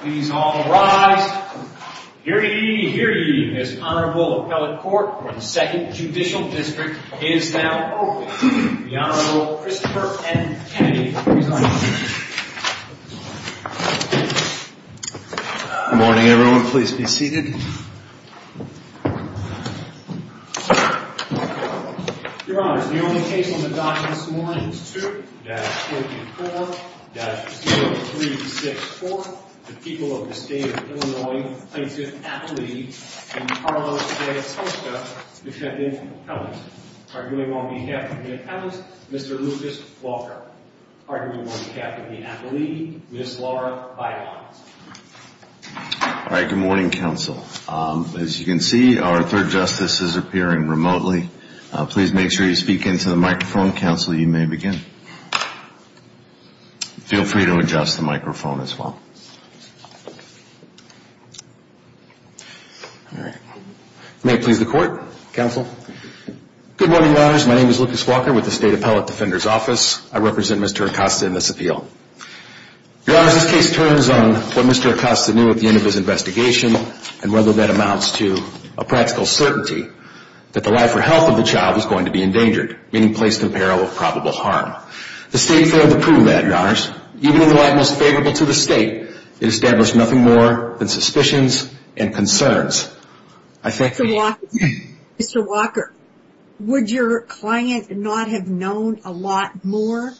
Please all rise. Hear ye, hear ye, this Honorable Appellate Court for the 2nd Judicial District is now open. The Honorable Christopher M. Kennedy will present the case. Good morning, everyone. Please be seated. Your Honors, the only case on the docket this morning is 2-54-0364. The people of the State of Illinois plaintiff, Appellee, and Carlos J. Acosta defendant, Appellant. Arguing on behalf of the Appellant, Mr. Lucas Walker. Arguing on behalf of the Appellee, Ms. Laura Bidons. All right, good morning, Counsel. As you can see, our 3rd Justice is appearing remotely. Please make sure you speak into the microphone, Counsel, you may begin. Feel free to adjust the microphone as well. All right. May it please the Court, Counsel. Good morning, Your Honors. My name is Lucas Walker with the State Appellate Defender's Office. I represent Mr. Acosta in this appeal. Your Honors, this case turns on what Mr. Acosta knew at the end of his investigation and whether that amounts to a practical certainty that the life or health of the child is going to be endangered, meaning placed in peril of probable harm. The State failed to prove that, Your Honors. Even in the light most favorable to the State, it established nothing more than suspicions and concerns. Mr. Walker, would your client not have known a lot more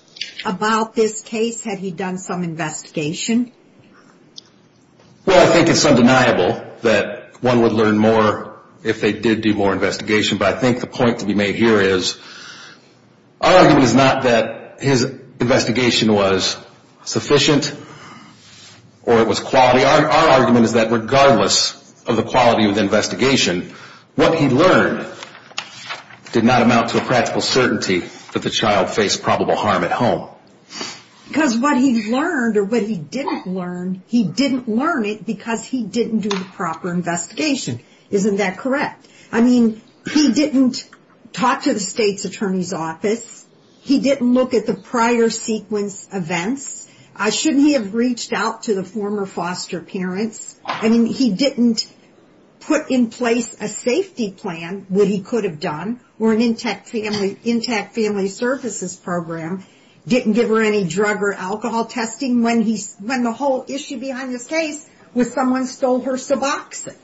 about this case had he done some investigation? Well, I think it's undeniable that one would learn more if they did do more investigation, but I think the point to be made here is our argument is not that his investigation was sufficient or it was quality. Our argument is that regardless of the quality of the investigation, what he learned did not amount to a practical certainty that the child faced probable harm at home. Because what he learned or what he didn't learn, he didn't learn it because he didn't do the proper investigation. Isn't that correct? I mean, he didn't talk to the State's Attorney's Office. He didn't look at the prior sequence events. Shouldn't he have reached out to the former foster parents? I mean, he didn't put in place a safety plan that he could have done or an intact family services program, didn't give her any drug or alcohol testing when the whole issue behind this case was someone stole her Suboxone.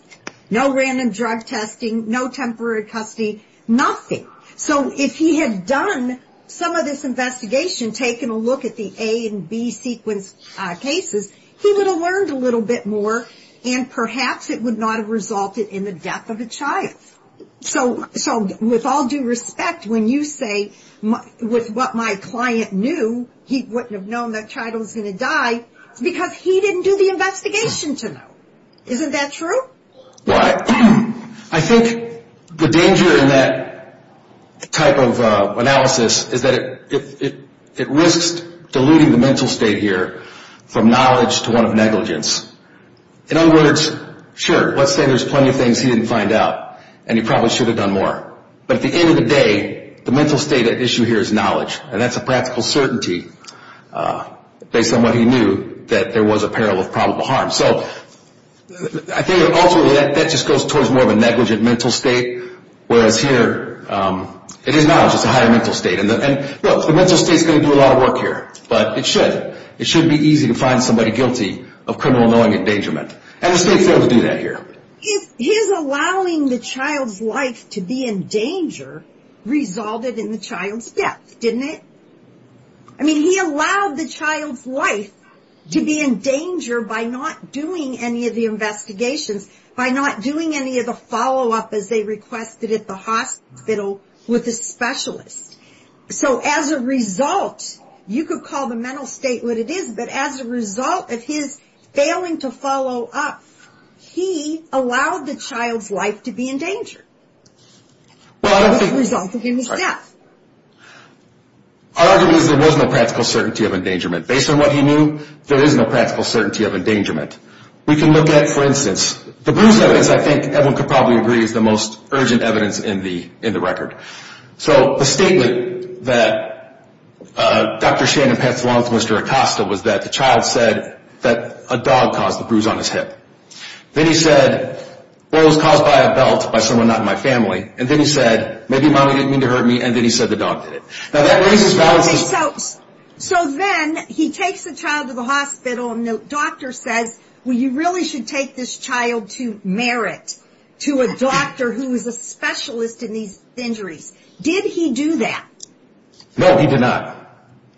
No random drug testing, no temporary custody, nothing. So if he had done some of this investigation, taken a look at the A and B sequence cases, he would have learned a little bit more, and perhaps it would not have resulted in the death of a child. So with all due respect, when you say, with what my client knew, he wouldn't have known that child was going to die, it's because he didn't do the investigation to know. Isn't that true? Well, I think the danger in that type of analysis is that it risks diluting the mental state here from knowledge to one of negligence. In other words, sure, let's say there's plenty of things he didn't find out and he probably should have done more. But at the end of the day, the mental state at issue here is knowledge, and that's a practical certainty based on what he knew, that there was a peril of probable harm. So I think ultimately that just goes towards more of a negligent mental state, whereas here it is knowledge, it's a higher mental state. And look, the mental state is going to do a lot of work here, but it should. It should be easy to find somebody guilty of criminal knowing endangerment. And we'll stay true to do that here. His allowing the child's life to be in danger resulted in the child's death, didn't it? I mean, he allowed the child's life to be in danger by not doing any of the investigations, by not doing any of the follow-up as they requested at the hospital with a specialist. So as a result, you could call the mental state what it is, but as a result of his failing to follow up, he allowed the child's life to be in danger, which resulted in his death. Our argument is there was no practical certainty of endangerment. Based on what he knew, there is no practical certainty of endangerment. We can look at, for instance, the Bruce evidence, I think everyone could probably agree, is the most urgent evidence in the record. So the statement that Dr. Shannon Pence along with Mr. Acosta was that the child said that a dog caused the bruise on his hip. Then he said, well, it was caused by a belt by someone not in my family. And then he said, maybe mommy didn't mean to hurt me. And then he said the dog did it. Now, that raises valid questions. So then he takes the child to the hospital, and the doctor says, well, you really should take this child to Merritt, to a doctor who is a specialist in these injuries. Did he do that? No, he did not.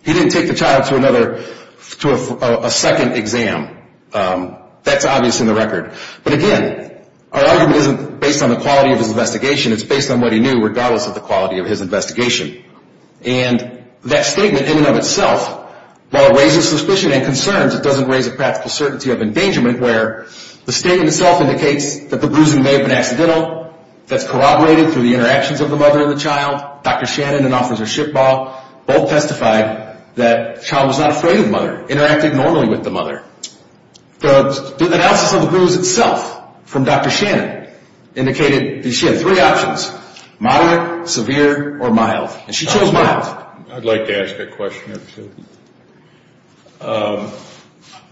He didn't take the child to a second exam. That's obvious in the record. But again, our argument isn't based on the quality of his investigation. It's based on what he knew, regardless of the quality of his investigation. And that statement in and of itself, while it raises suspicion and concerns, it doesn't raise a practical certainty of endangerment, where the statement itself indicates that the bruising may have been accidental. That's corroborated through the interactions of the mother and the child. Dr. Shannon and Officer Shipbaugh both testified that the child was not afraid of the mother, interacted normally with the mother. The analysis of the bruise itself from Dr. Shannon indicated that she had three options, moderate, severe, or mild. And she chose mild. I'd like to ask a question or two.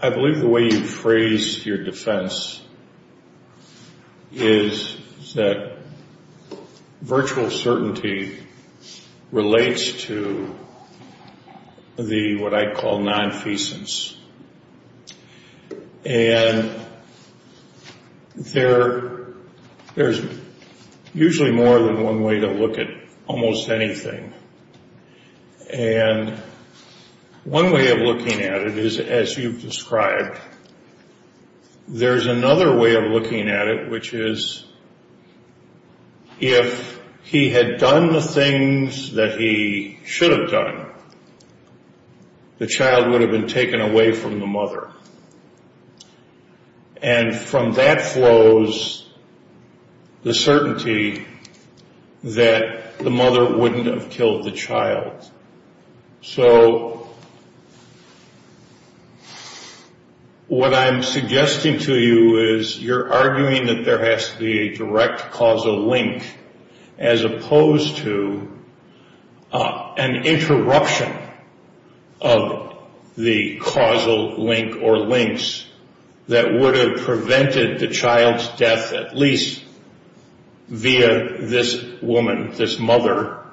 I believe the way you phrase your defense is that virtual certainty relates to the, what I call, nonfeasance. And there's usually more than one way to look at almost anything. And one way of looking at it is, as you've described, there's another way of looking at it, which is if he had done the things that he should have done, the child would have been taken away from the mother. And from that flows the certainty that the mother wouldn't have killed the child. So what I'm suggesting to you is you're arguing that there has to be a direct causal link, as opposed to an interruption of the causal link or links that would have prevented the child's death at least via this woman, this mother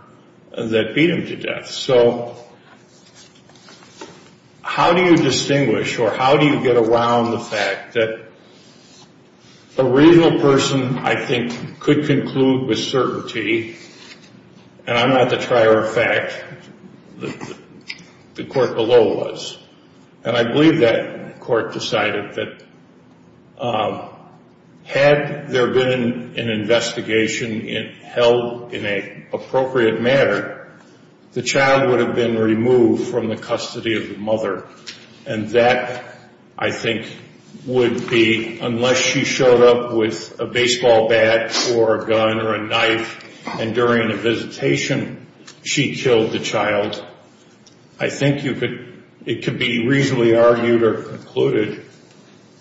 that beat him to death. So how do you distinguish or how do you get around the fact that a reasonable person, I think, could conclude with certainty, and I'm not the trier of fact, the court below was. And I believe that court decided that had there been an investigation held in an appropriate manner, the child would have been removed from the custody of the mother. And that, I think, would be unless she showed up with a baseball bat or a gun or a knife and during the visitation she killed the child. I think it could be reasonably argued or concluded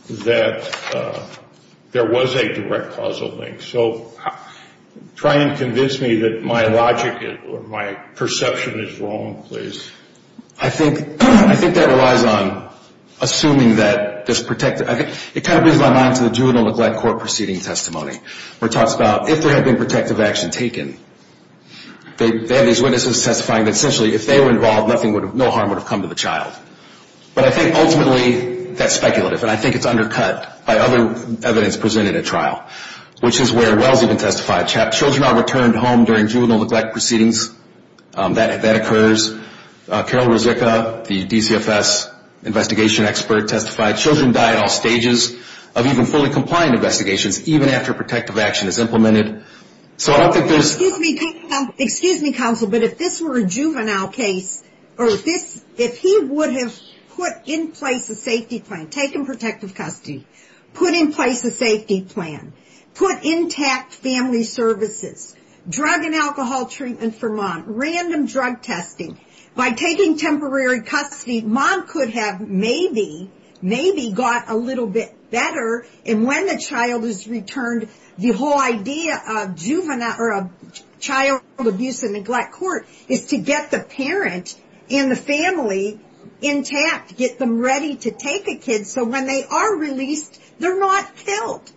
that there was a direct causal link. So try and convince me that my logic or my perception is wrong, please. I think that relies on assuming that there's protected. It kind of brings my mind to the juvenile neglect court proceeding testimony where it talks about if there had been protective action taken, they have these witnesses testifying that essentially if they were involved, no harm would have come to the child. But I think ultimately that's speculative, and I think it's undercut by other evidence presented at trial, which is where Welles even testified. Children are returned home during juvenile neglect proceedings. That occurs. Carol Ruzicka, the DCFS investigation expert, testified. Children die at all stages of even fully compliant investigations, even after protective action is implemented. So I don't think there's... Excuse me, counsel, but if this were a juvenile case, or if he would have put in place a safety plan, taken protective custody, put in place a safety plan, put intact family services, drug and alcohol treatment for mom, random drug testing, by taking temporary custody, mom could have maybe, maybe got a little bit better, and when the child is returned, the whole idea of juvenile, or child abuse and neglect court is to get the parent and the family intact, get them ready to take a kid so when they are released, they're not killed.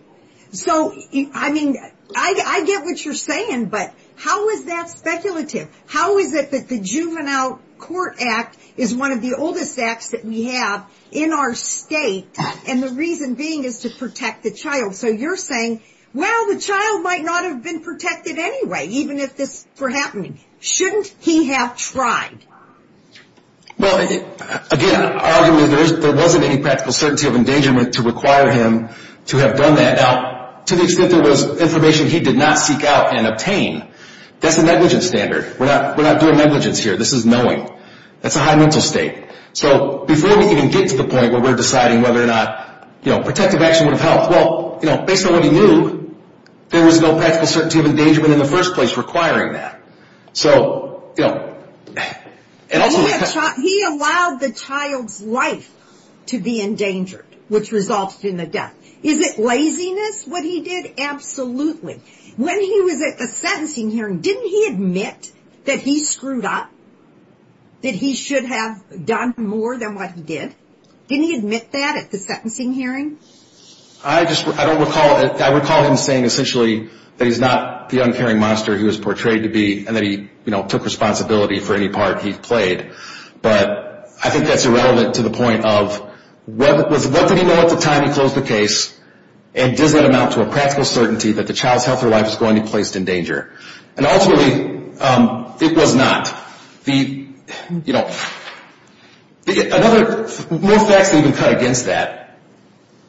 So, I mean, I get what you're saying, but how is that speculative? How is it that the Juvenile Court Act is one of the oldest acts that we have in our state, and the reason being is to protect the child? So you're saying, well, the child might not have been protected anyway, even if this were happening. Shouldn't he have tried? Well, again, our argument is there wasn't any practical certainty of endangerment to require him to have done that. Now, to the extent there was information he did not seek out and obtain, that's a negligence standard. We're not doing negligence here. This is knowing. That's a high mental state. So before we can even get to the point where we're deciding whether or not, you know, protective action would have helped, well, you know, based on what we knew, there was no practical certainty of endangerment in the first place requiring that. So, you know, and also... He allowed the child's life to be endangered, which resulted in the death. Is it laziness, what he did? Absolutely. When he was at the sentencing hearing, didn't he admit that he screwed up, that he should have done more than what he did? Didn't he admit that at the sentencing hearing? I just don't recall it. I recall him saying essentially that he's not the uncaring monster he was portrayed to be and that he, you know, took responsibility for any part he played. But I think that's irrelevant to the point of what did he know at the time he closed the case and does that amount to a practical certainty that the child's health or life is going to be placed in danger? And ultimately, it was not. The, you know, more facts that even cut against that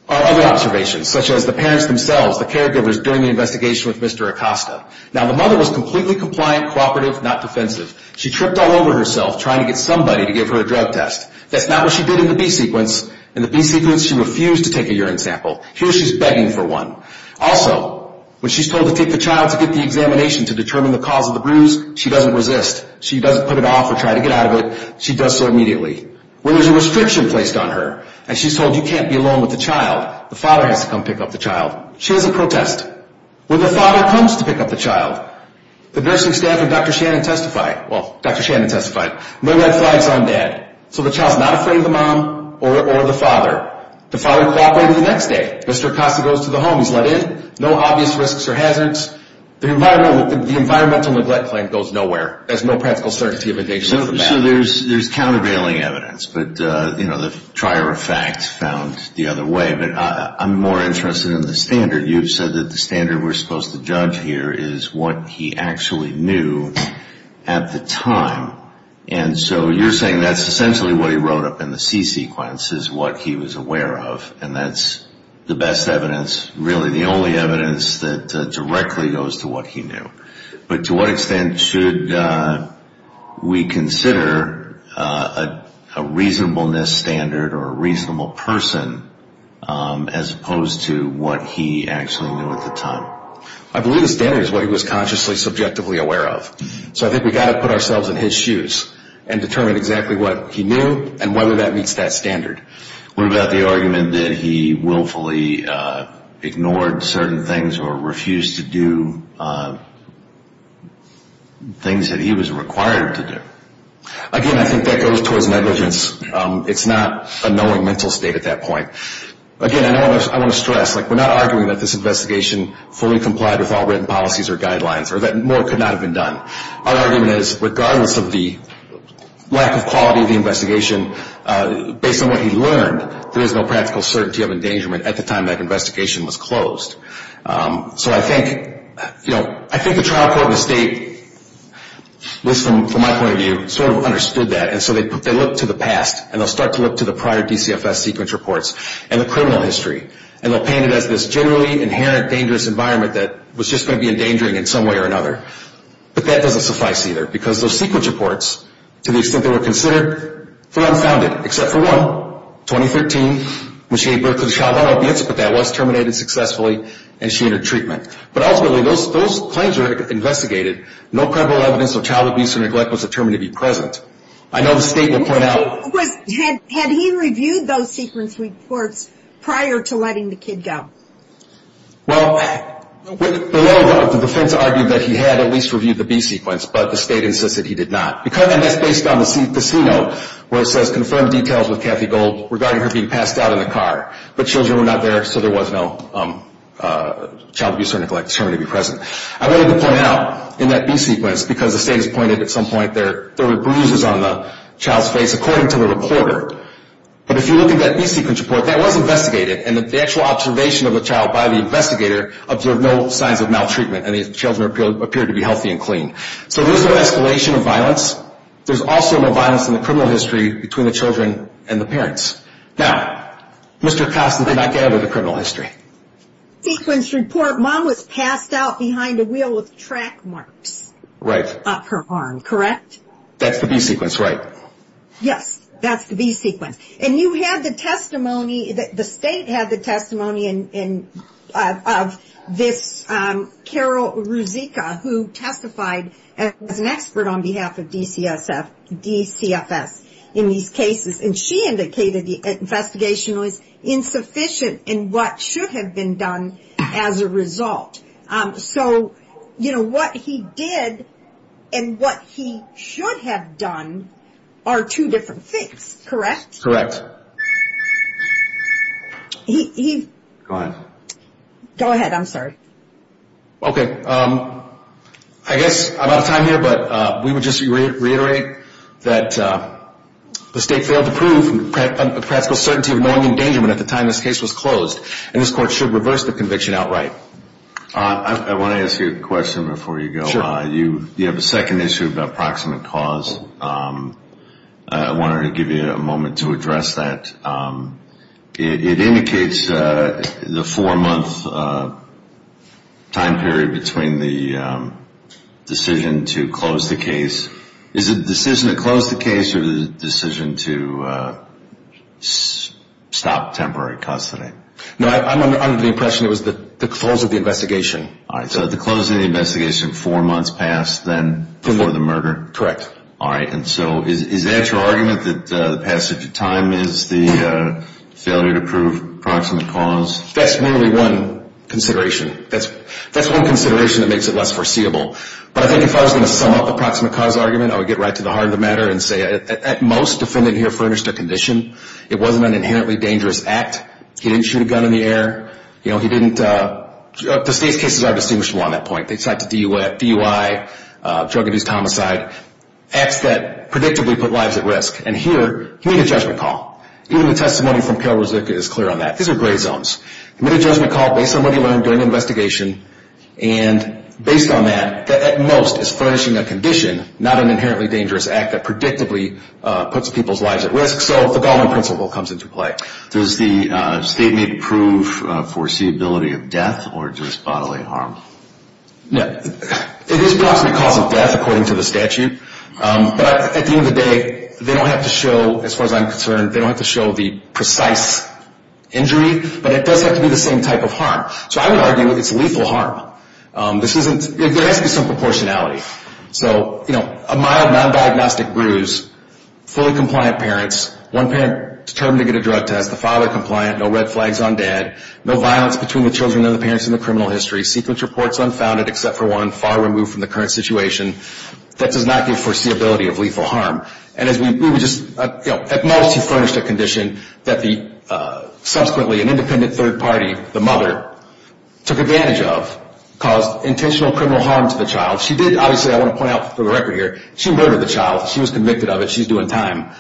are other observations, such as the parents themselves, the caregivers doing the investigation with Mr. Acosta. Now, the mother was completely compliant, cooperative, not defensive. She tripped all over herself trying to get somebody to give her a drug test. That's not what she did in the B-sequence. In the B-sequence, she refused to take a urine sample. Here she's begging for one. Also, when she's told to take the child to get the examination to determine the cause of the bruise, she doesn't resist. She doesn't put it off or try to get out of it. She does so immediately. When there's a restriction placed on her and she's told you can't be alone with the child, the father has to come pick up the child. She has a protest. When the father comes to pick up the child, the nursing staff and Dr. Shannon testify. Well, Dr. Shannon testified. My red flag's on Dad. So the child's not afraid of the mom or the father. The father cooperated the next day. Mr. Acosta goes to the home. He's let in. No obvious risks or hazards. The environmental neglect claim goes nowhere. There's no practical certainty of a danger to the family. So there's countervailing evidence, but, you know, the trier of facts found the other way. But I'm more interested in the standard. You've said that the standard we're supposed to judge here is what he actually knew at the time. And so you're saying that's essentially what he wrote up in the C-sequence is what he was aware of, and that's the best evidence, really the only evidence that directly goes to what he knew. But to what extent should we consider a reasonableness standard or a reasonable person as opposed to what he actually knew at the time? I believe the standard is what he was consciously subjectively aware of. So I think we've got to put ourselves in his shoes and determine exactly what he knew and whether that meets that standard. What about the argument that he willfully ignored certain things or refused to do things that he was required to do? Again, I think that goes towards negligence. It's not a knowing mental state at that point. Again, I want to stress, like, we're not arguing that this investigation fully complied with all written policies or guidelines or that more could not have been done. Our argument is regardless of the lack of quality of the investigation, based on what he learned, there is no practical certainty of endangerment at the time that investigation was closed. So I think, you know, I think the trial court in the state, from my point of view, sort of understood that. And so they looked to the past, and they'll start to look to the prior DCFS C-sequence reports and the criminal history, and they'll paint it as this generally inherent dangerous environment that was just going to be endangering in some way or another. But that doesn't suffice either. Because those C-sequence reports, to the extent they were considered, were unfounded. Except for one, 2013, when she gave birth to a child without an abuse, but that was terminated successfully, and she entered treatment. But ultimately, those claims were investigated. No credible evidence of child abuse or neglect was determined to be present. I know the state will point out... Had he reviewed those C-sequence reports prior to letting the kid go? Well, the defense argued that he had at least reviewed the B-sequence, but the state insisted he did not. And that's based on the C-note, where it says, confirm details with Kathy Gold regarding her being passed out in the car. But children were not there, so there was no child abuse or neglect determined to be present. I wanted to point out in that B-sequence, because the state has pointed at some point there were bruises on the child's face, according to the reporter. But if you look at that B-sequence report, that was investigated. And the actual observation of the child by the investigator observed no signs of maltreatment, and the children appeared to be healthy and clean. So there's no escalation of violence. There's also no violence in the criminal history between the children and the parents. Now, Mr. Costin did not gather the criminal history. B-sequence report, mom was passed out behind a wheel with track marks. Right. Up her arm, correct? That's the B-sequence, right. Yes, that's the B-sequence. And you had the testimony, the state had the testimony of this Carol Ruzicka, who testified as an expert on behalf of DCFS in these cases. And she indicated the investigation was insufficient in what should have been done as a result. So, you know, what he did and what he should have done are two different things, correct? Correct. Go ahead. Go ahead. I'm sorry. I guess I'm out of time here, but we would just reiterate that the state failed to prove a practical certainty of knowing endangerment at the time this case was closed, and this court should reverse the conviction outright. I want to ask you a question before you go. You have a second issue about proximate cause. I wanted to give you a moment to address that. It indicates the four-month time period between the decision to close the case. Is it a decision to close the case or is it a decision to stop temporary custody? No, I'm under the impression it was the close of the investigation. All right. So at the close of the investigation, four months passed then before the murder? Correct. And so is that your argument that the passage of time is the failure to prove proximate cause? That's merely one consideration. That's one consideration that makes it less foreseeable. But I think if I was going to sum up the proximate cause argument, I would get right to the heart of the matter and say at most, the defendant here furnished a condition. It wasn't an inherently dangerous act. He didn't shoot a gun in the air. You know, he didn't – the state's cases are distinguishable on that point. They cite the DUI, drug abuse, homicide, acts that predictably put lives at risk. And here, he made a judgment call. Even the testimony from Carol Ruzicka is clear on that. These are gray zones. He made a judgment call based on what he learned during the investigation, and based on that, at most, is furnishing a condition, not an inherently dangerous act that predictably puts people's lives at risk. So the Goldman principle comes into play. Does the statement prove foreseeability of death or just bodily harm? No. It is proximate cause of death, according to the statute. But at the end of the day, they don't have to show, as far as I'm concerned, they don't have to show the precise injury. But it does have to be the same type of harm. So I would argue it's lethal harm. This isn't – there has to be some proportionality. So, you know, a mild, non-diagnostic bruise, fully compliant parents, one parent determined to get a drug test, the father compliant, no red flags on dad, no violence between the children and the parents in the criminal history, sequence reports unfounded except for one, far removed from the current situation. That does not give foreseeability of lethal harm. And as we – we would just – you know, at most, he furnished a condition that the – subsequently an independent third party, the mother, took advantage of, caused intentional criminal harm to the child. She did – obviously, I want to point out for the record here, she murdered the child. She was convicted of it. She's doing time.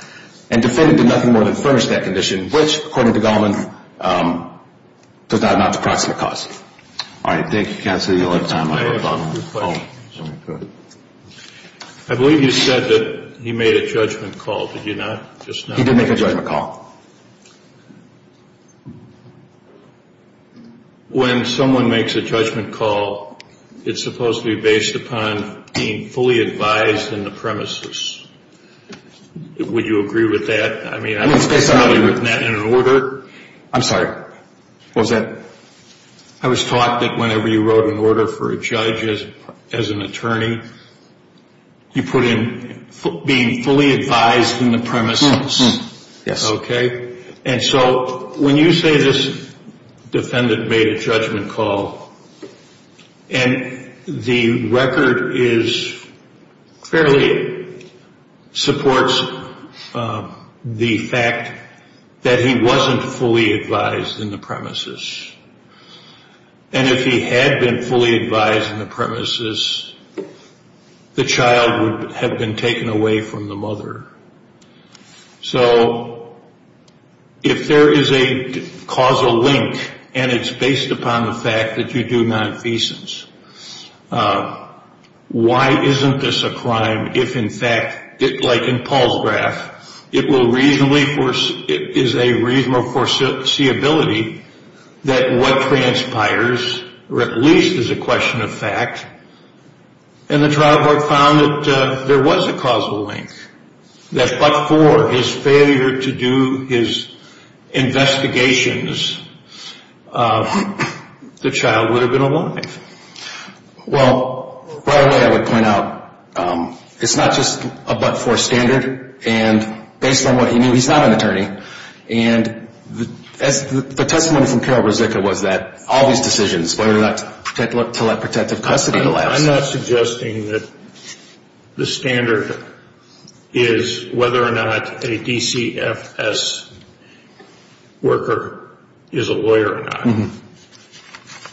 And defendant did nothing more than furnish that condition, which, according to Goldman, does not amount to proximate cause. All right. Thank you, counsel. You'll have time. I have a couple of questions. Go ahead. I believe you said that he made a judgment call. Did you not? Just now? He did make a judgment call. When someone makes a judgment call, it's supposed to be based upon being fully advised in the premises. Would you agree with that? I mean, I don't suppose I've ever written that in an order. I'm sorry. What was that? I was taught that whenever you wrote an order for a judge as an attorney, you put in being fully advised in the premises. Yes. Okay. And so when you say this defendant made a judgment call, and the record is fairly, supports the fact that he wasn't fully advised in the premises. And if he had been fully advised in the premises, the child would have been taken away from the mother. So if there is a causal link, and it's based upon the fact that you do nonfeasance, why isn't this a crime if, in fact, like in Paul's graph, it is a reasonable foreseeability that what transpires, or at least is a question of fact, and the trial board found that there was a causal link, that but for his failure to do his investigations, the child would have been alive. Well, right away I would point out it's not just a but for standard, and based on what he knew, he's not an attorney. And the testimony from Carol Rozicka was that all these decisions, whether or not to let protective custody last. I'm not suggesting that the standard is whether or not a DCFS worker is a lawyer or not.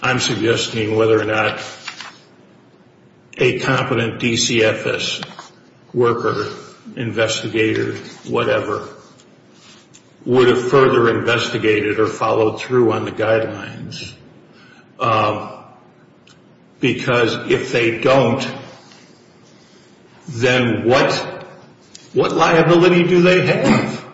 I'm suggesting whether or not a competent DCFS worker, investigator, whatever, would have further investigated or followed through on the guidelines. Because if they don't, then what liability do they have,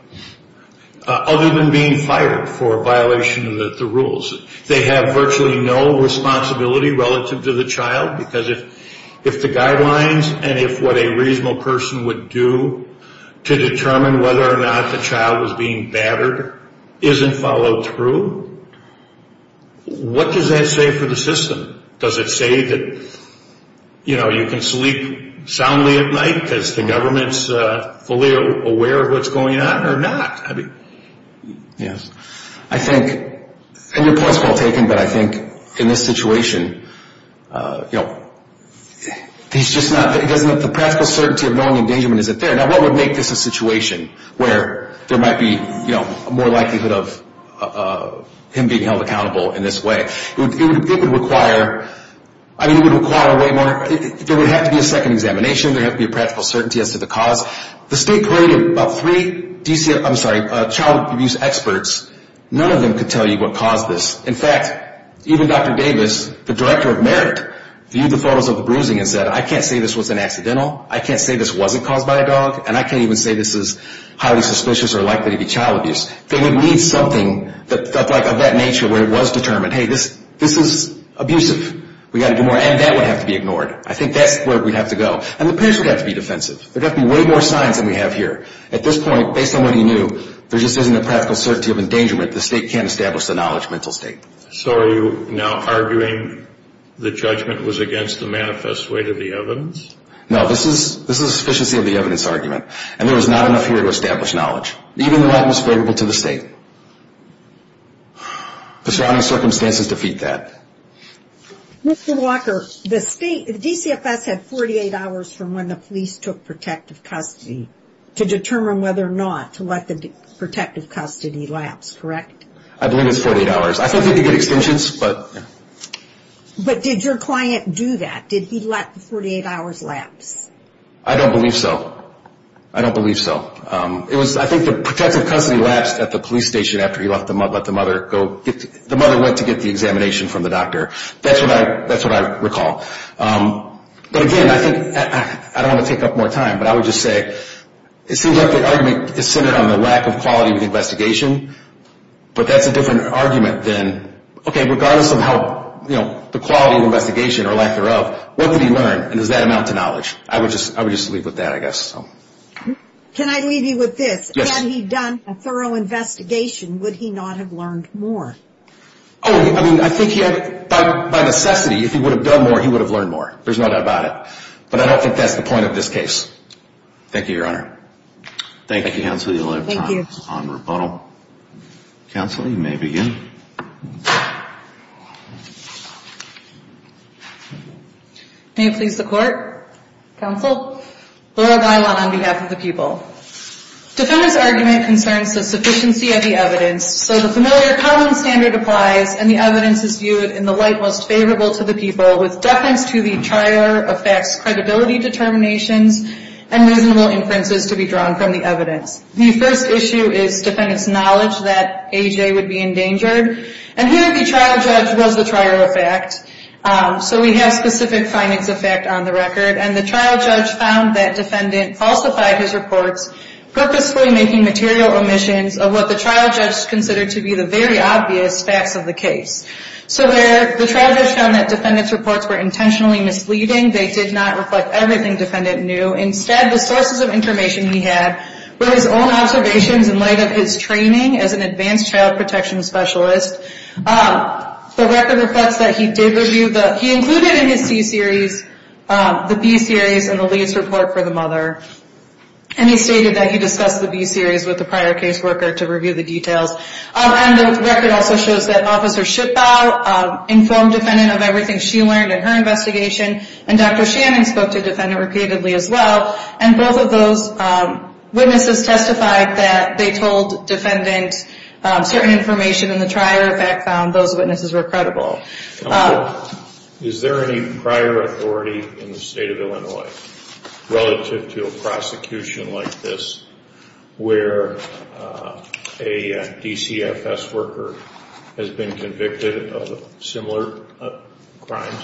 other than being fired for a violation of the rules? They have virtually no responsibility relative to the child, because if the guidelines and if what a reasonable person would do to determine whether or not the child was being battered isn't followed through, what does that say for the system? Does it say that, you know, you can sleep soundly at night because the government's fully aware of what's going on or not? Yes. I think, and your point's well taken, but I think in this situation, you know, the practical certainty of knowing the endangerment isn't there. Now, what would make this a situation where there might be, you know, more likelihood of him being held accountable in this way? It would require, I mean, it would require way more, there would have to be a second examination, there would have to be a practical certainty as to the cause. The state created about three DCFS, I'm sorry, child abuse experts. None of them could tell you what caused this. In fact, even Dr. Davis, the director of Merit, viewed the photos of the bruising and said, I can't say this was an accidental, I can't say this wasn't caused by a dog, and I can't even say this is highly suspicious or likely to be child abuse. They would need something that felt like of that nature where it was determined, hey, this is abusive, we've got to do more, and that would have to be ignored. I think that's where we'd have to go. And the parents would have to be defensive. There would have to be way more signs than we have here. At this point, based on what he knew, there just isn't a practical certainty of endangerment. The state can't establish the knowledge mental state. So are you now arguing the judgment was against the manifest weight of the evidence? No, this is a sufficiency of the evidence argument. And there was not enough here to establish knowledge, even though that was favorable to the state. The surrounding circumstances defeat that. Mr. Walker, the state, the DCFS had 48 hours from when the police took protective custody to determine whether or not to let the protective custody lapse, correct? I believe it's 48 hours. I think they could get extensions, but... But did your client do that? Did he let the 48 hours lapse? I don't believe so. I don't believe so. I think the protective custody lapsed at the police station after he let the mother go. The mother went to get the examination from the doctor. That's what I recall. But, again, I think I don't want to take up more time, but I would just say it seems like the argument is centered on the lack of quality of the investigation, but that's a different argument than, okay, regardless of how, you know, the quality of the investigation or lack thereof, what did he learn, and does that amount to knowledge? I would just leave with that, I guess. Can I leave you with this? Yes. Had he done a thorough investigation, would he not have learned more? Oh, I mean, I think he had, by necessity, if he would have done more, he would have learned more. There's no doubt about it. But I don't think that's the point of this case. Thank you, Your Honor. Thank you, Counsel. You only have time on rebuttal. Counsel, you may begin. May it please the Court. Counsel. Laura Guilan on behalf of the people. Defendant's argument concerns the sufficiency of the evidence, so the familiar common standard applies, and the evidence is viewed in the light most favorable to the people with deference to the trial judge's credibility determinations and reasonable inferences to be drawn from the evidence. The first issue is defendant's knowledge that A.J. would be endangered, and here the trial judge was the trial judge of fact, so we have specific findings of fact on the record, and the trial judge found that defendant falsified his reports, purposefully making material omissions of what the trial judge considered to be the very obvious facts of the case. So the trial judge found that defendant's reports were intentionally misleading. They did not reflect everything defendant knew. Instead, the sources of information he had were his own observations in light of his training as an advanced child protection specialist. The record reflects that he included in his C-series the B-series in the lead's report for the mother, and he stated that he discussed the B-series with the prior caseworker to review the details. The record also shows that Officer Schippau informed defendant of everything she learned in her investigation, and Dr. Shannon spoke to defendant repeatedly as well, and both of those witnesses testified that they told defendant certain information in the trial, in fact, those witnesses were credible. Is there any prior authority in the state of Illinois relative to a prosecution like this where a DCFS worker has been convicted of similar crimes?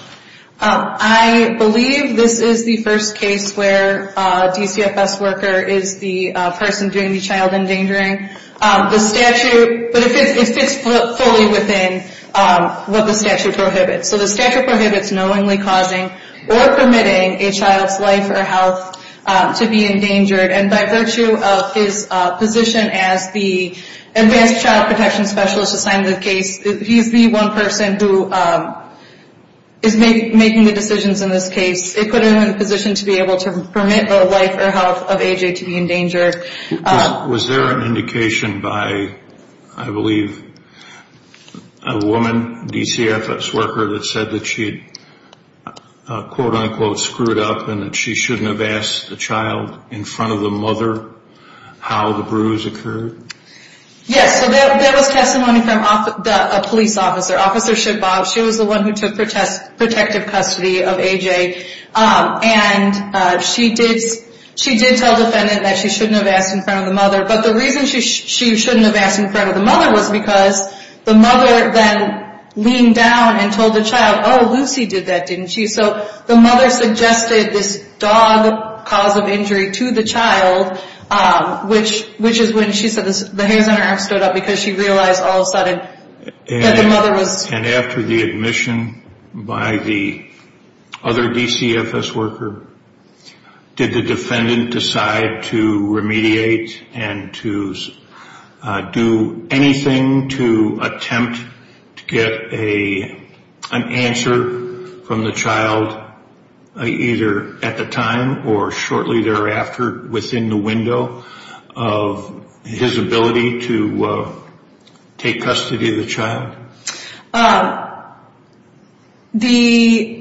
I believe this is the first case where a DCFS worker is the person doing the child endangering. The statute, but it fits fully within what the statute prohibits. So the statute prohibits knowingly causing or permitting a child's life or health to be endangered, and by virtue of his position as the advanced child protection specialist assigned to the case, he's the one person who is making the decisions in this case. They put him in a position to be able to permit the life or health of AJ to be endangered. Was there an indication by, I believe, a woman, DCFS worker, that said that she had quote-unquote screwed up and that she shouldn't have asked the child in front of the mother how the bruise occurred? Yes, so there was testimony from a police officer, Officer Schippau. She was the one who took protective custody of AJ, and she did tell the defendant that she shouldn't have asked in front of the mother, but the reason she shouldn't have asked in front of the mother was because the mother then leaned down and told the child, oh, Lucy did that, didn't she? So the mother suggested this dog cause of injury to the child, which is when she said the hairs on her arm stood up because she realized all of a sudden that the mother was... And after the admission by the other DCFS worker, did the defendant decide to remediate and to do anything to attempt to get an answer from the child either at the time or shortly thereafter within the window of his ability to take custody of the child? The...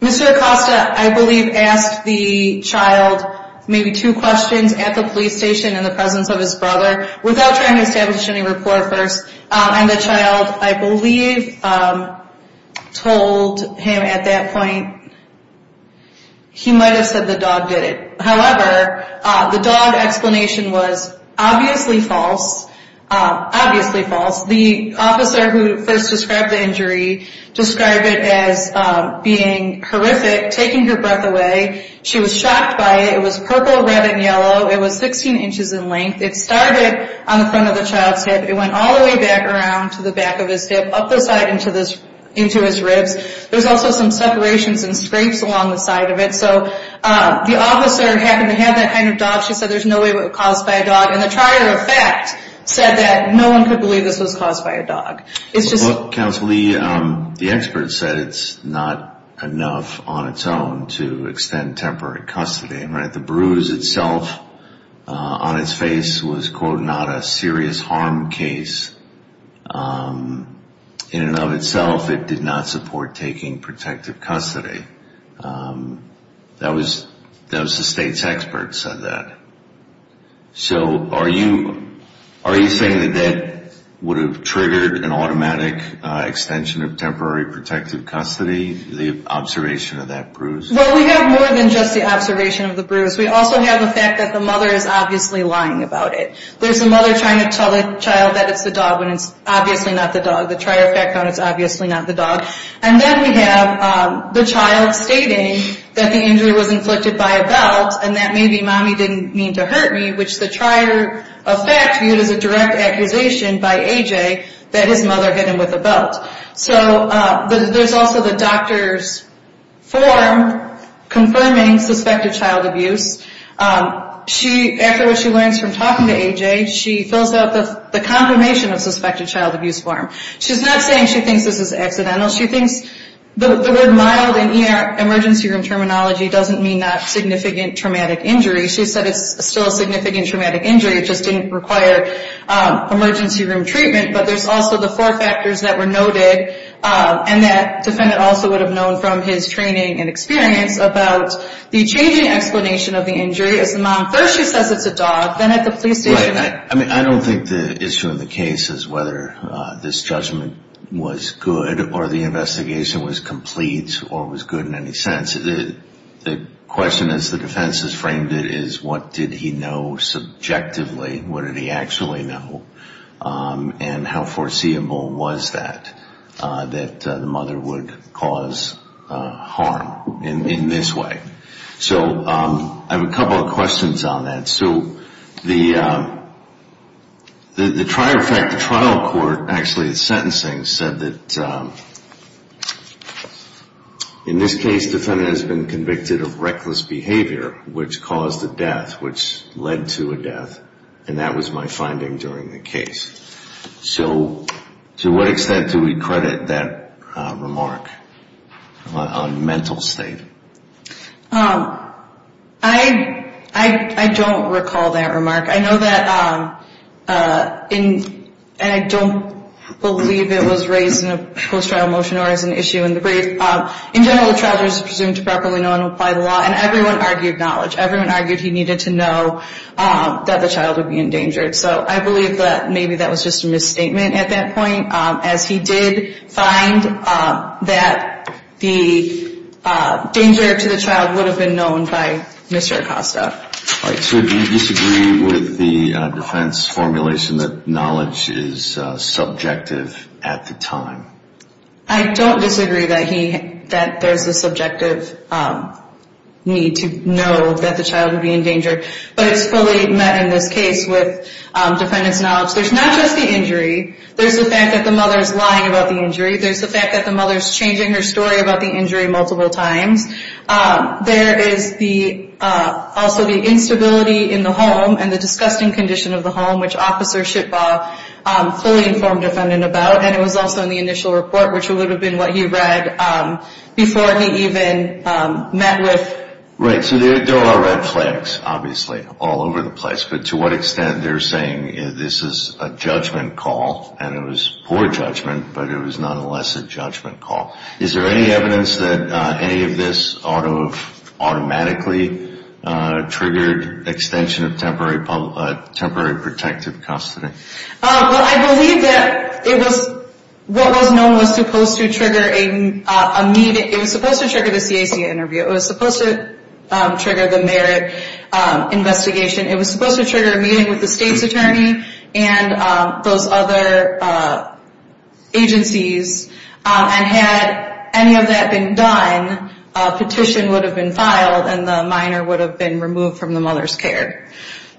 Mr. Acosta, I believe, asked the child maybe two questions at the police station in the presence of his brother without trying to establish any rapport first, and the child, I believe, told him at that point he might have said the dog did it. However, the dog explanation was obviously false, obviously false. The officer who first described the injury described it as being horrific, taking her breath away. She was shocked by it. It was purple, red, and yellow. It was 16 inches in length. It started on the front of the child's head. It went all the way back around to the back of his hip, up the side into his ribs. There's also some separations and scrapes along the side of it. So the officer happened to have that kind of dog. She said there's no way it was caused by a dog, and the trier of fact said that no one could believe this was caused by a dog. It's just... Counsel, the expert said it's not enough on its own to extend temporary custody. The bruise itself on its face was, quote, not a serious harm case. In and of itself, it did not support taking protective custody. That was the state's expert who said that. So are you saying that that would have triggered an automatic extension of temporary protective custody, the observation of that bruise? Well, we have more than just the observation of the bruise. We also have the fact that the mother is obviously lying about it. There's the mother trying to tell the child that it's the dog when it's obviously not the dog. The trier of fact found it's obviously not the dog. And then we have the child stating that the injury was inflicted by a belt and that maybe mommy didn't mean to hurt me, which the trier of fact viewed as a direct accusation by A.J. that his mother hit him with a belt. So there's also the doctor's form confirming suspected child abuse. After what she learns from talking to A.J., she fills out the confirmation of suspected child abuse form. She's not saying she thinks this is accidental. She thinks the word mild in ER emergency room terminology doesn't mean not significant traumatic injury. She said it's still a significant traumatic injury. It just didn't require emergency room treatment. But there's also the four factors that were noted and that defendant also would have known from his training and experience about the changing explanation of the injury. First she says it's a dog, then at the police station. I don't think the issue in the case is whether this judgment was good or the investigation was complete or was good in any sense. The question as the defense has framed it is what did he know subjectively? What did he actually know? And how foreseeable was that, that the mother would cause harm in this way? So I have a couple of questions on that. So the trial court actually in sentencing said that in this case the defendant has been convicted of reckless behavior which caused a death, which led to a death, and that was my finding during the case. So to what extent do we credit that remark on mental state? I don't recall that remark. I know that and I don't believe it was raised in a post-trial motion or as an issue in the brief. In general the child is presumed to properly know and apply the law and everyone argued knowledge. Everyone argued he needed to know that the child would be endangered. So I believe that maybe that was just a misstatement at that point as he did find that the danger to the child would have been known by Mr. Acosta. All right, so do you disagree with the defense formulation that knowledge is subjective at the time? I don't disagree that there's the subjective need to know that the child would be endangered. But it's fully met in this case with defendant's knowledge. There's not just the injury. There's the fact that the mother is lying about the injury. There's the fact that the mother is changing her story about the injury multiple times. There is also the instability in the home and the disgusting condition of the home, which Officer Shitbaugh fully informed defendant about. And it was also in the initial report, which would have been what he read before he even met with. Right, so there are red flags, obviously, all over the place. But to what extent they're saying this is a judgment call, and it was poor judgment, but it was nonetheless a judgment call. Is there any evidence that any of this automatically triggered extension of temporary protective custody? Well, I believe that what was known was supposed to trigger a meeting. It was supposed to trigger the CAC interview. It was supposed to trigger the merit investigation. It was supposed to trigger a meeting with the state's attorney and those other agencies. And had any of that been done, a petition would have been filed and the minor would have been removed from the mother's care.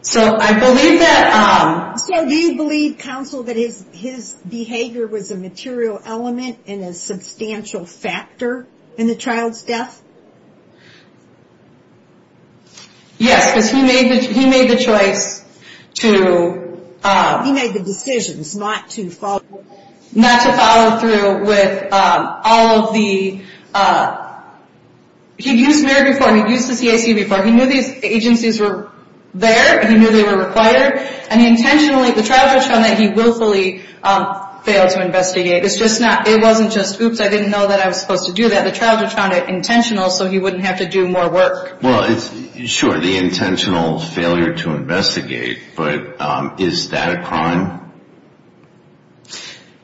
So I believe that... So do you believe, counsel, that his behavior was a material element and a substantial factor in the child's death? Yes, because he made the choice to... He made the decisions not to follow through. Not to follow through with all of the... He'd used MERIT before and he'd used the CAC before. He knew these agencies were there. He knew they were required. And he intentionally... The child judge found that he willfully failed to investigate. It's just not... It wasn't just, oops, I didn't know that I was supposed to do that. The child judge found it intentional so he wouldn't have to do more work. Well, sure, the intentional failure to investigate. But is that a crime?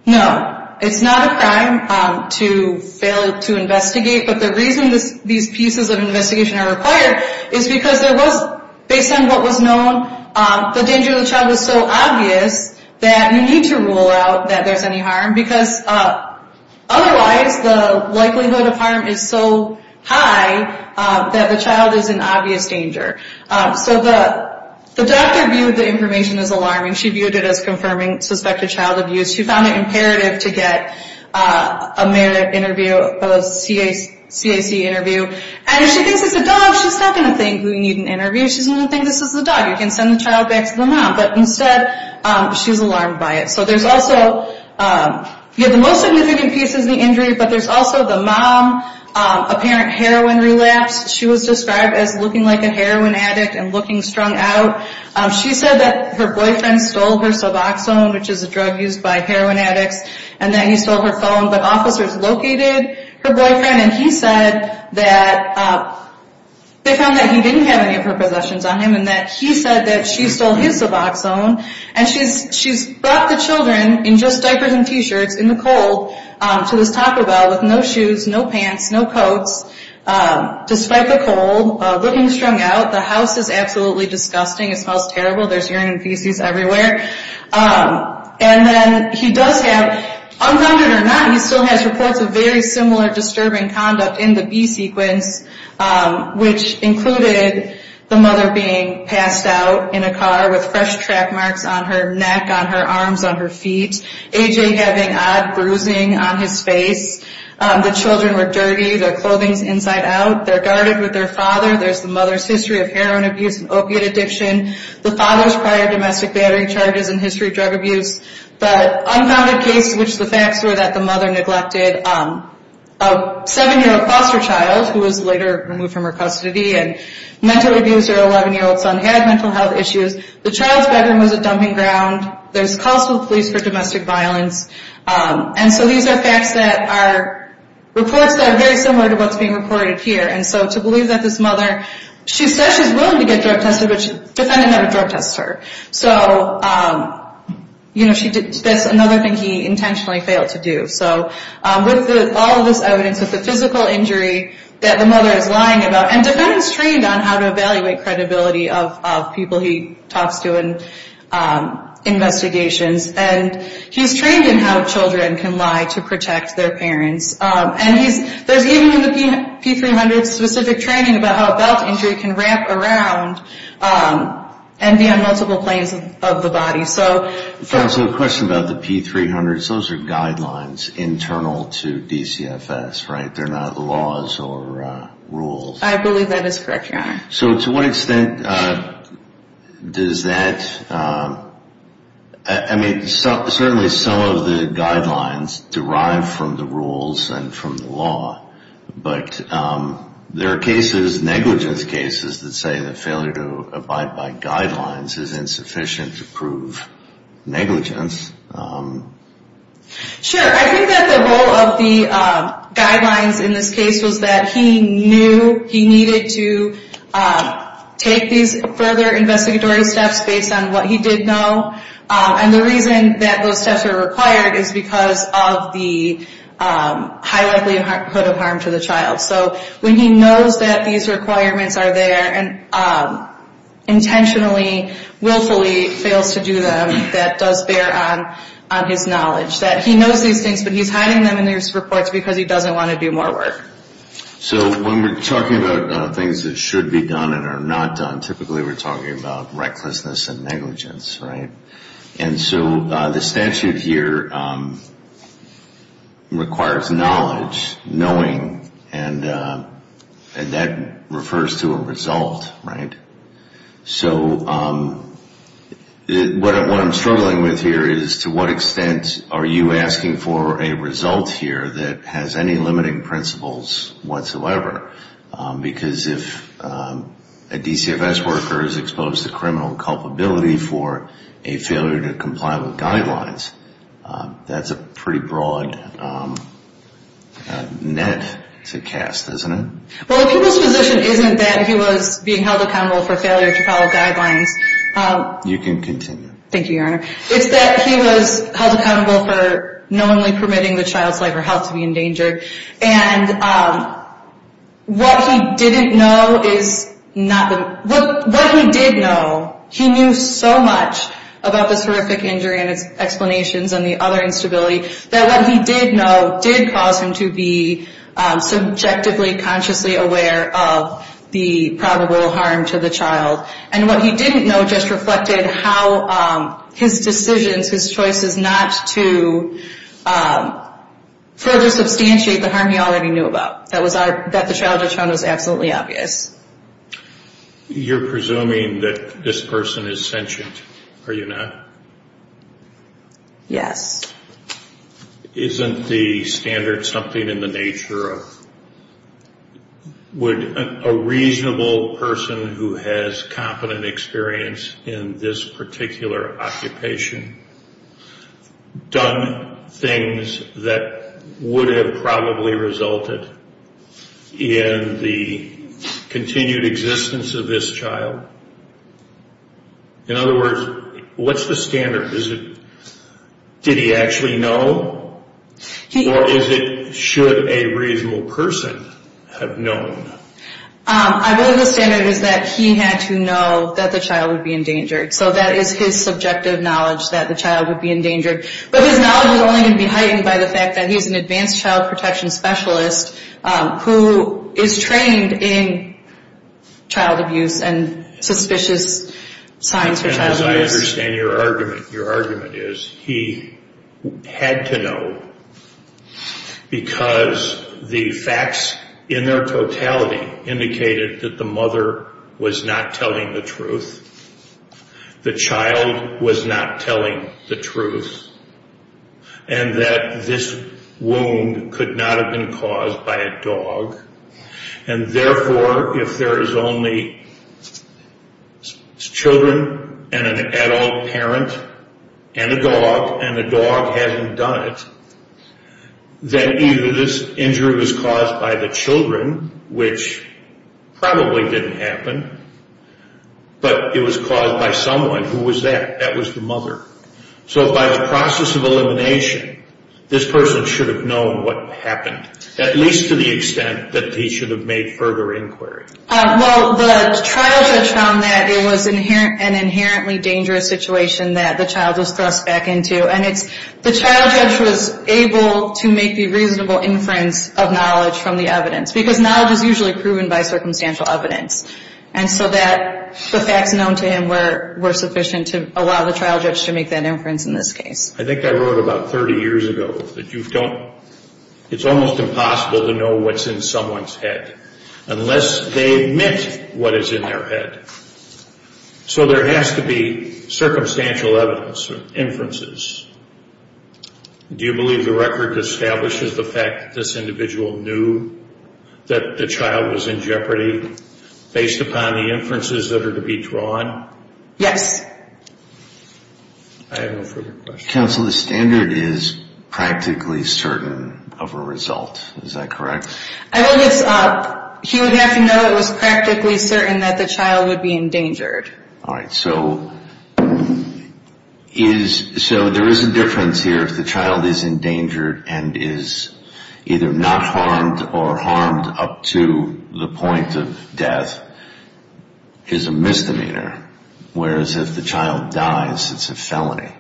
No. It's not a crime to fail to investigate. But the reason these pieces of investigation are required is because there was, based on what was known, the danger to the child was so obvious that you need to rule out that there's any harm. Because otherwise, the likelihood of harm is so high that the child is in obvious danger. So the doctor viewed the information as alarming. She viewed it as confirming suspected child abuse. She found it imperative to get a MERIT interview, a CAC interview. And if she thinks it's a dog, she's not going to think we need an interview. She's going to think this is a dog. You can send the child back to the mom. But instead, she's alarmed by it. So there's also the most significant piece is the injury, but there's also the mom apparent heroin relapse. She was described as looking like a heroin addict and looking strung out. She said that her boyfriend stole her Suboxone, which is a drug used by heroin addicts, and that he stole her phone. But officers located her boyfriend, and he said that they found that he didn't have any of her possessions on him and that he said that she stole his Suboxone. And she's brought the children in just diapers and T-shirts in the cold to this Taco Bell with no shoes, no pants, no coats, despite the cold, looking strung out. The house is absolutely disgusting. It smells terrible. There's urine and feces everywhere. And then he does have, unrounded or not, he still has reports of very similar disturbing conduct in the B-sequence, which included the mother being passed out in a car with fresh track marks on her neck, on her arms, on her feet, A.J. having odd bruising on his face. The children were dirty. Their clothing's inside out. They're guarded with their father. There's the mother's history of heroin abuse and opiate addiction, the father's prior domestic battery charges and history of drug abuse. The unfounded case, which the facts were that the mother neglected a 7-year-old foster child who was later removed from her custody and mental abuse. Her 11-year-old son had mental health issues. The child's bedroom was a dumping ground. There's calls to the police for domestic violence. And so these are facts that are reports that are very similar to what's being reported here. And so to believe that this mother, she says she's willing to get drug tested, but she's defending that a drug test hurt. So, you know, that's another thing he intentionally failed to do. So with all of this evidence, with the physical injury that the mother is lying about, and Devan's trained on how to evaluate credibility of people he talks to in investigations, and he's trained in how children can lie to protect their parents. And there's even in the P-300 specific training about how a belt injury can wrap around and be on multiple planes of the body. So the question about the P-300s, those are guidelines internal to DCFS, right? They're not laws or rules. I believe that is correct, Your Honor. So to what extent does that, I mean, certainly some of the guidelines derive from the rules and from the law. But there are cases, negligence cases, that say that failure to abide by guidelines is insufficient to prove negligence. Sure. I think that the role of the guidelines in this case was that he knew he needed to take these further investigatory steps based on what he did know. And the reason that those steps are required is because of the high likelihood of harm to the child. So when he knows that these requirements are there and intentionally, willfully fails to do them, that does bear on his knowledge. That he knows these things, but he's hiding them in his reports because he doesn't want to do more work. So when we're talking about things that should be done and are not done, typically we're talking about recklessness and negligence, right? And so the statute here requires knowledge, knowing, and that refers to a result, right? So what I'm struggling with here is to what extent are you asking for a result here that has any limiting principles whatsoever? Because if a DCFS worker is exposed to criminal culpability for a failure to comply with guidelines, that's a pretty broad net to cast, isn't it? Well, the people's position isn't that he was being held accountable for failure to follow guidelines. You can continue. Thank you, Your Honor. It's that he was held accountable for knowingly permitting the child's life or health to be in danger. And what he didn't know is not the... What he did know, he knew so much about this horrific injury and its explanations and the other instability, that what he did know did cause him to be subjectively, consciously aware of the probable harm to the child. And what he didn't know just reflected how his decisions, his choices not to further substantiate the harm he already knew about. That the child had shown was absolutely obvious. You're presuming that this person is sentient, are you not? Yes. Isn't the standard something in the nature of, would a reasonable person who has competent experience in this particular occupation done things that would have probably resulted in the continued existence of this child? In other words, what's the standard? Is it, did he actually know? Or is it, should a reasonable person have known? I believe the standard is that he had to know that the child would be endangered. So that is his subjective knowledge, that the child would be endangered. But his knowledge is only going to be heightened by the fact that he's an advanced child protection specialist who is trained in child abuse and suspicious signs of child abuse. And as I understand your argument, your argument is he had to know because the facts in their totality indicated that the mother was not telling the truth, the child was not telling the truth, and that this wound could not have been caused by a dog. And therefore, if there is only children and an adult parent and a dog, and a dog hasn't done it, then either this injury was caused by the children, which probably didn't happen, but it was caused by someone. Who was that? That was the mother. So by the process of elimination, this person should have known what happened. At least to the extent that he should have made further inquiry. Well, the trial judge found that it was an inherently dangerous situation that the child was thrust back into. And it's, the trial judge was able to make the reasonable inference of knowledge from the evidence. Because knowledge is usually proven by circumstantial evidence. And so that the facts known to him were sufficient to allow the trial judge to make that inference in this case. I think I wrote about 30 years ago that you don't, it's almost impossible to know what's in someone's head unless they admit what is in their head. So there has to be circumstantial evidence, inferences. Do you believe the record establishes the fact that this individual knew that the child was in jeopardy? Based upon the inferences that are to be drawn? I have no further questions. Counsel, the standard is practically certain of a result. Is that correct? I think it's, he would have to know it was practically certain that the child would be endangered. All right. So, is, so there is a difference here. If the child is endangered and is either not harmed or harmed up to the point of death, is a misdemeanor. Whereas if the child dies, it's a felony.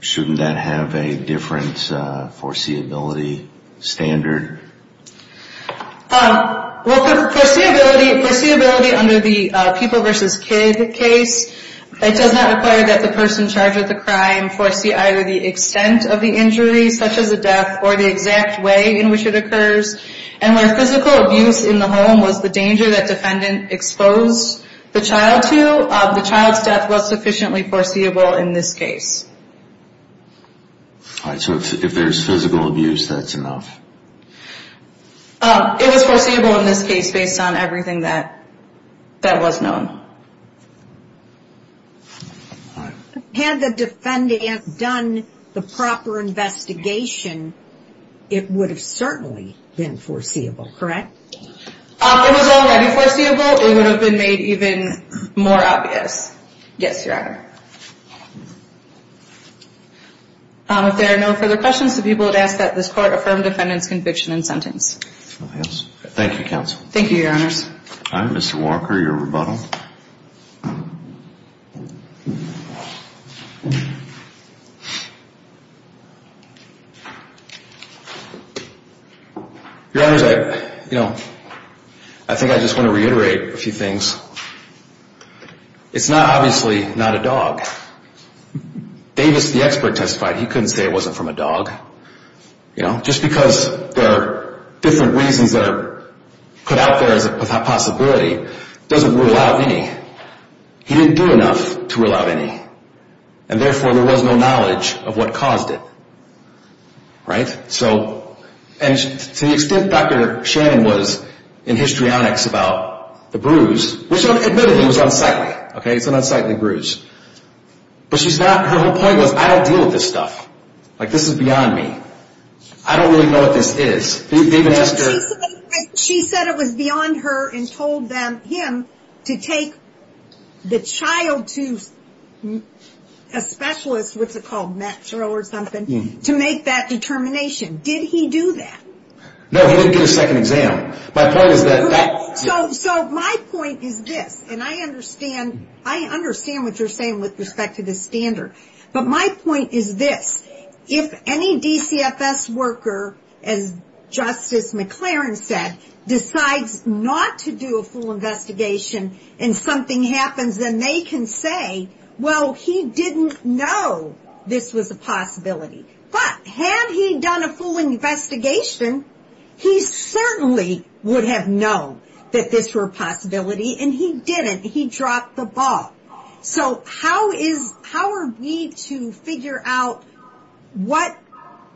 Shouldn't that have a different foreseeability standard? Well, the foreseeability under the people versus kid case, it does not require that the person charged with the crime foresee either the extent of the injury, such as a death, or the exact way in which it occurs. And where physical abuse in the home was the danger that defendant exposed the child to, the child's death was sufficiently foreseeable in this case. All right. So if there's physical abuse, that's enough. It was foreseeable in this case based on everything that was known. Had the defendant done the proper investigation, it would have certainly been foreseeable, correct? It was already foreseeable. It would have been made even more obvious. Yes, Your Honor. If there are no further questions, the people would ask that this Court affirm defendant's conviction and sentence. Thank you, Counsel. Thank you, Your Honors. All right. Mr. Walker, your rebuttal. Your Honors, you know, I think I just want to reiterate a few things. It's not obviously not a dog. Davis, the expert, testified he couldn't say it wasn't from a dog. You know, just because there are different reasons that are put out there as a possibility doesn't rule out any. He didn't do enough to rule out any. And therefore there was no knowledge of what caused it. Right? To the extent Dr. Shannon was in histrionics about the bruise, which admittedly was unsightly. It's an unsightly bruise. But her whole point was, I don't deal with this stuff. Like, this is beyond me. I don't really know what this is. She said it was beyond her and told him to take the child to a specialist, what's it called, Metro or something, to make that determination. Did he do that? No, he didn't get a second exam. So my point is this, and I understand what you're saying with respect to the standard. But my point is this, if any DCFS worker, as Justice McLaren said, decides not to do a full investigation and something happens, then they can say, well, he didn't know this was a possibility. But had he done a full investigation, he certainly would have known that this were a possibility. And he didn't. He dropped the ball. So how are we to figure out what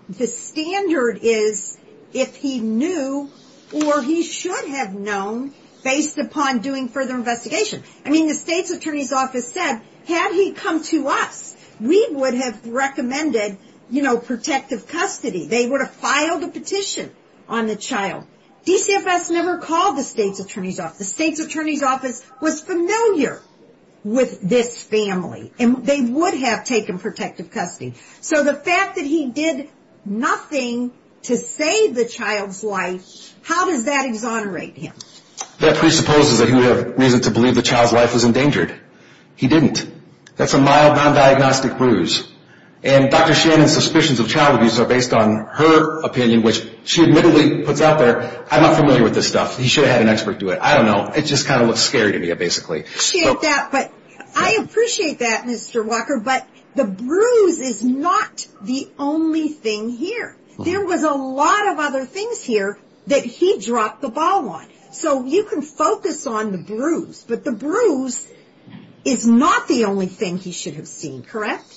the standard is if he knew or he should have known based upon doing further investigation? I mean, the state's attorney's office said, had he come to us, we would have recommended, you know, protective custody. They would have filed a petition on the child. DCFS never called the state's attorney's office. The state's attorney's office was familiar with this family, and they would have taken protective custody. So the fact that he did nothing to save the child's life, how does that exonerate him? That presupposes that he would have reason to believe the child's life was endangered. He didn't. That's a mild non-diagnostic bruise. And Dr. Shannon's suspicions of child abuse are based on her opinion, which she admittedly puts out there, I'm not familiar with this stuff. He should have had an expert do it. I don't know. It just kind of looks scary to me, basically. I appreciate that, Mr. Walker, but the bruise is not the only thing here. There was a lot of other things here that he dropped the ball on. So you can focus on the bruise, but the bruise is not the only thing he should have seen, correct?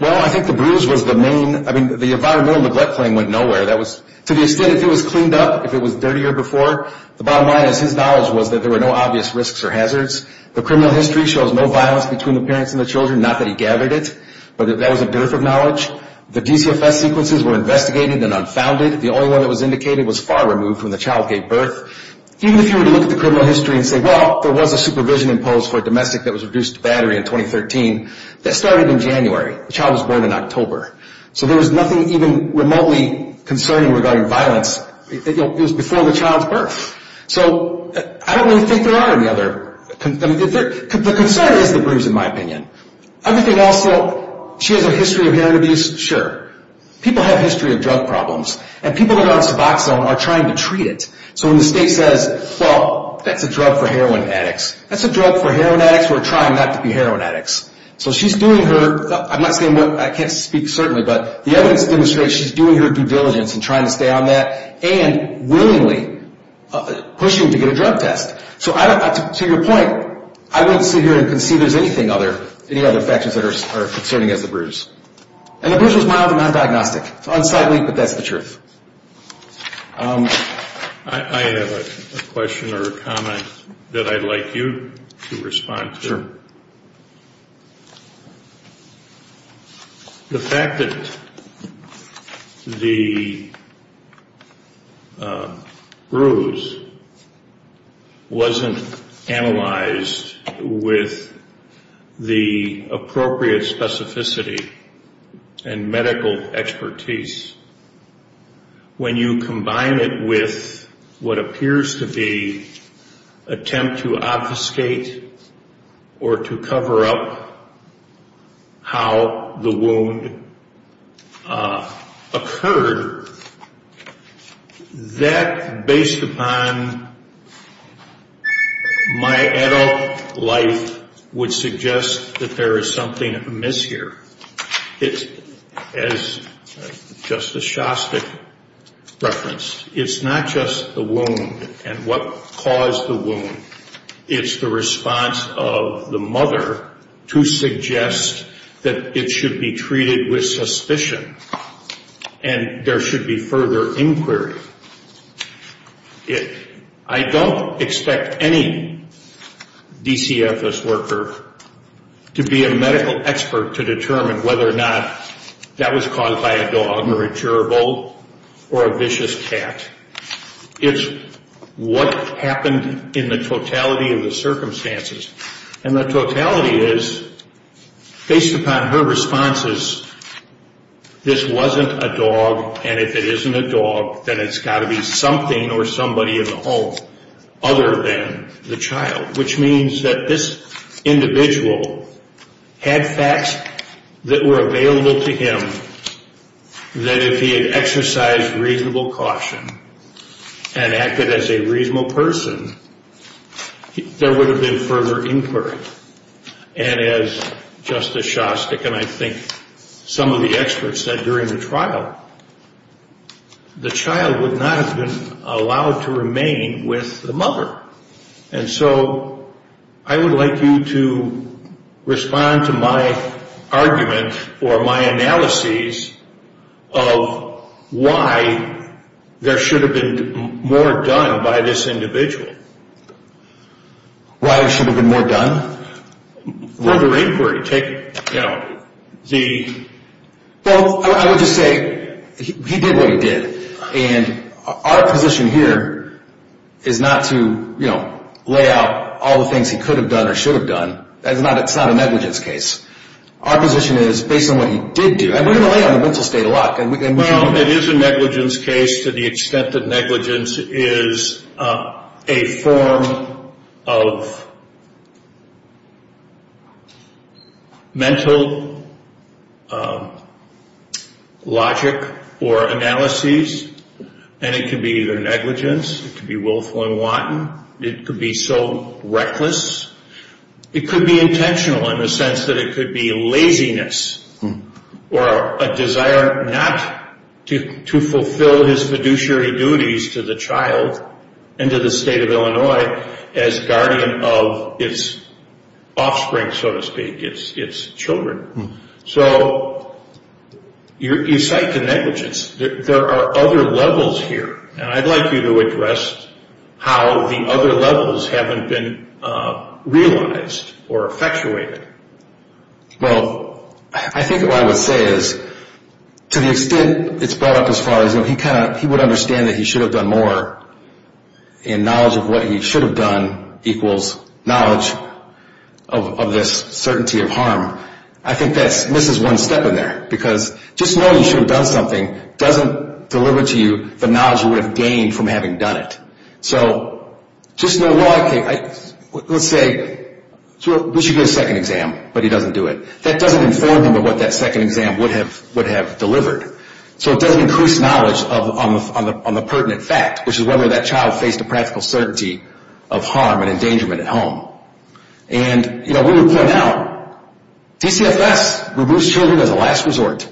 Well, I think the bruise was the main – I mean, the environmental neglect claim went nowhere. To the extent if it was cleaned up, if it was dirtier before, the bottom line is his knowledge was that there were no obvious risks or hazards. The criminal history shows no violence between the parents and the children, not that he gathered it, but that was a dearth of knowledge. The DCFS sequences were investigated and unfounded. The only one that was indicated was far removed when the child gave birth. Even if you were to look at the criminal history and say, well, there was a supervision imposed for a domestic that was reduced to battery in 2013, that started in January. The child was born in October. So there was nothing even remotely concerning regarding violence. It was before the child's birth. So I don't really think there are any other – the concern is the bruise, in my opinion. Everything else, though, she has a history of heroin abuse, sure. People have a history of drug problems, and people who are on Suboxone are trying to treat it. So when the state says, well, that's a drug for heroin addicts, that's a drug for heroin addicts who are trying not to be heroin addicts. So she's doing her – I'm not saying what – I can't speak certainly, but the evidence demonstrates she's doing her due diligence in trying to stay on that and willingly pushing to get a drug test. So I don't – to your point, I wouldn't sit here and concede there's anything other – any other factors that are concerning as the bruise. And the bruise was mild and non-diagnostic. It's unsightly, but that's the truth. I have a question or a comment that I'd like you to respond to. The fact that the bruise wasn't analyzed with the appropriate specificity and medical expertise, when you combine it with what appears to be an attempt to obfuscate or to cover up how the wound occurred, that, based upon my adult life, would suggest that there is something amiss here. As Justice Shostak referenced, it's not just the wound and what caused the wound. It's the response of the mother to suggest that it should be treated with suspicion and there should be further inquiry. I don't expect any DCFS worker to be a medical expert to determine whether or not that was caused by a dog or a gerbil or a vicious cat. It's what happened in the totality of the circumstances. And the totality is, based upon her responses, this wasn't a dog, and if it isn't a dog, then it's got to be something or somebody in the home other than the child, which means that this individual had facts that were available to him that if he had exercised reasonable caution and acted as a reasonable person, there would have been further inquiry. And as Justice Shostak and I think some of the experts said during the trial, the child would not have been allowed to remain with the mother. And so I would like you to respond to my argument or my analyses of why there should have been more done by this individual. Why there should have been more done? Further inquiry. Well, I would just say he did what he did. And our position here is not to lay out all the things he could have done or should have done. It's not a negligence case. Our position is, based on what he did do, and we're going to lay on the mental state a lot. Well, it is a negligence case to the extent that negligence is a form of mental logic or analyses, and it can be either negligence, it could be willful and wanton, it could be so reckless. It could be intentional in the sense that it could be laziness or a desire not to fulfill his fiduciary duties to the child and to the state of Illinois as guardian of its offspring, so to speak, its children. So you cite the negligence. There are other levels here. And I'd like you to address how the other levels haven't been realized or effectuated. Well, I think what I would say is to the extent it's brought up as far as, you know, he would understand that he should have done more in knowledge of what he should have done equals knowledge of this certainty of harm. I think that misses one step in there because just knowing you should have done something doesn't deliver to you the knowledge you would have gained from having done it. So just know, well, let's say we should get a second exam, but he doesn't do it. That doesn't inform him of what that second exam would have delivered. So it doesn't increase knowledge on the pertinent fact, which is whether that child faced a practical certainty of harm and endangerment at home. And, you know, we would point out DCFS removes children as a last resort.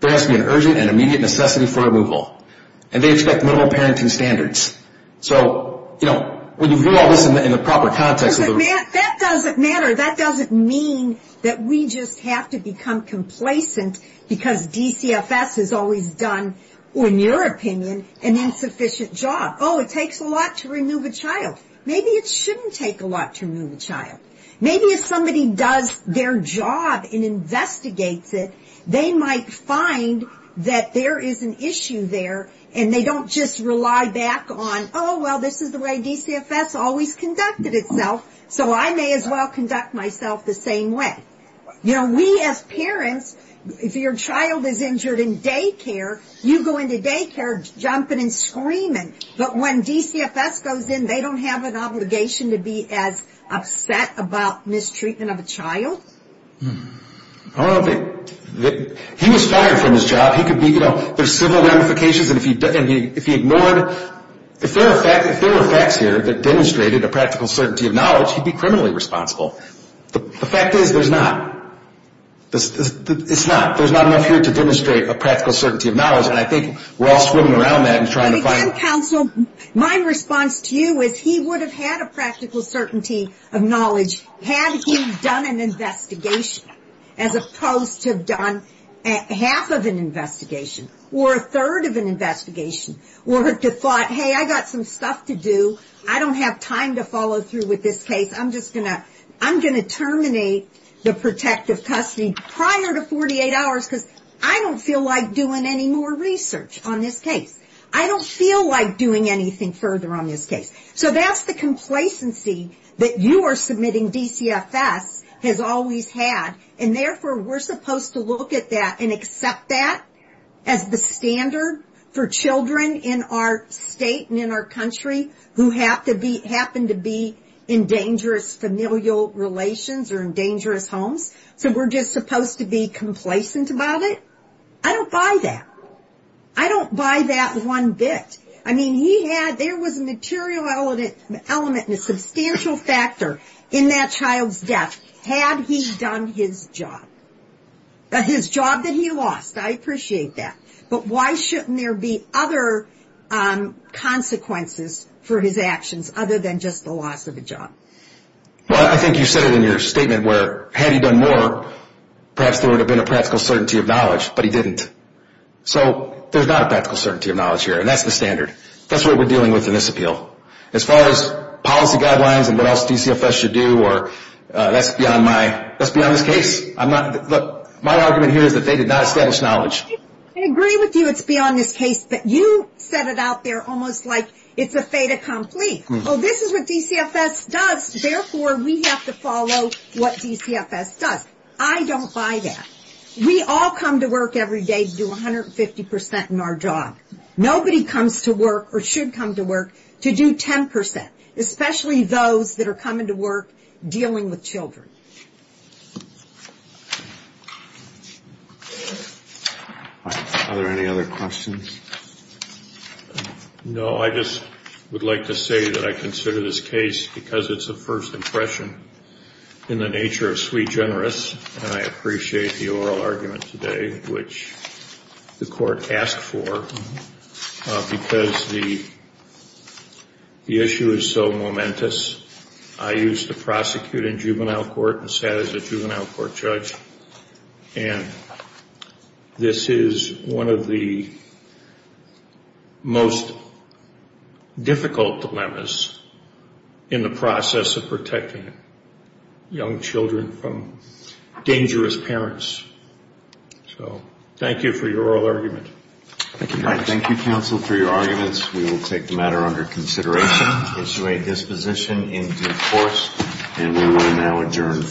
There has to be an urgent and immediate necessity for removal. And they expect minimal parenting standards. So, you know, when you view all this in the proper context of the... That doesn't matter. That doesn't mean that we just have to become complacent because DCFS has always done, in your opinion, an insufficient job. Oh, it takes a lot to remove a child. Maybe it shouldn't take a lot to remove a child. Maybe if somebody does their job and investigates it, they might find that there is an issue there, and they don't just rely back on, oh, well, this is the way DCFS always conducted itself, so I may as well conduct myself the same way. You know, we as parents, if your child is injured in daycare, you go into daycare jumping and screaming. But when DCFS goes in, they don't have an obligation to be as upset about mistreatment of a child? Oh, he was fired from his job. He could be, you know, there's civil ramifications, and if he ignored... If there were facts here that demonstrated a practical certainty of knowledge, he'd be criminally responsible. The fact is there's not. It's not. There's not enough here to demonstrate a practical certainty of knowledge, and I think we're all swimming around that and trying to find... Madam Counsel, my response to you is he would have had a practical certainty of knowledge had he done an investigation, as opposed to have done half of an investigation, or a third of an investigation, or had thought, hey, I've got some stuff to do. I don't have time to follow through with this case. I'm just going to terminate the protective custody prior to 48 hours because I don't feel like doing any more research on this case. I don't feel like doing anything further on this case. So that's the complacency that you are submitting DCFS has always had, and therefore we're supposed to look at that and accept that as the standard for children in our state and in our country who happen to be in dangerous familial relations or in dangerous homes? So we're just supposed to be complacent about it? I don't buy that. I don't buy that one bit. I mean, there was a material element and a substantial factor in that child's death. Had he done his job? His job that he lost. I appreciate that. But why shouldn't there be other consequences for his actions other than just the loss of a job? Well, I think you said it in your statement where had he done more, perhaps there would have been a practical certainty of knowledge, but he didn't. So there's not a practical certainty of knowledge here, and that's the standard. That's what we're dealing with in this appeal. As far as policy guidelines and what else DCFS should do, that's beyond this case. My argument here is that they did not establish knowledge. I agree with you it's beyond this case, but you said it out there almost like it's a fait accompli. Oh, this is what DCFS does, therefore we have to follow what DCFS does. I don't buy that. We all come to work every day to do 150% in our job. Nobody comes to work or should come to work to do 10%, especially those that are coming to work dealing with children. Are there any other questions? No, I just would like to say that I consider this case because it's a first impression in the nature of sui generis, and I appreciate the oral argument today, which the court asked for because the issue is so momentous. I used to prosecute in juvenile court and sat as a juvenile court judge, and this is one of the most difficult dilemmas in the process of protecting young children from dangerous parents. So thank you for your oral argument. Thank you, counsel, for your arguments. We will take the matter under consideration, this position into force, and we will now adjourn.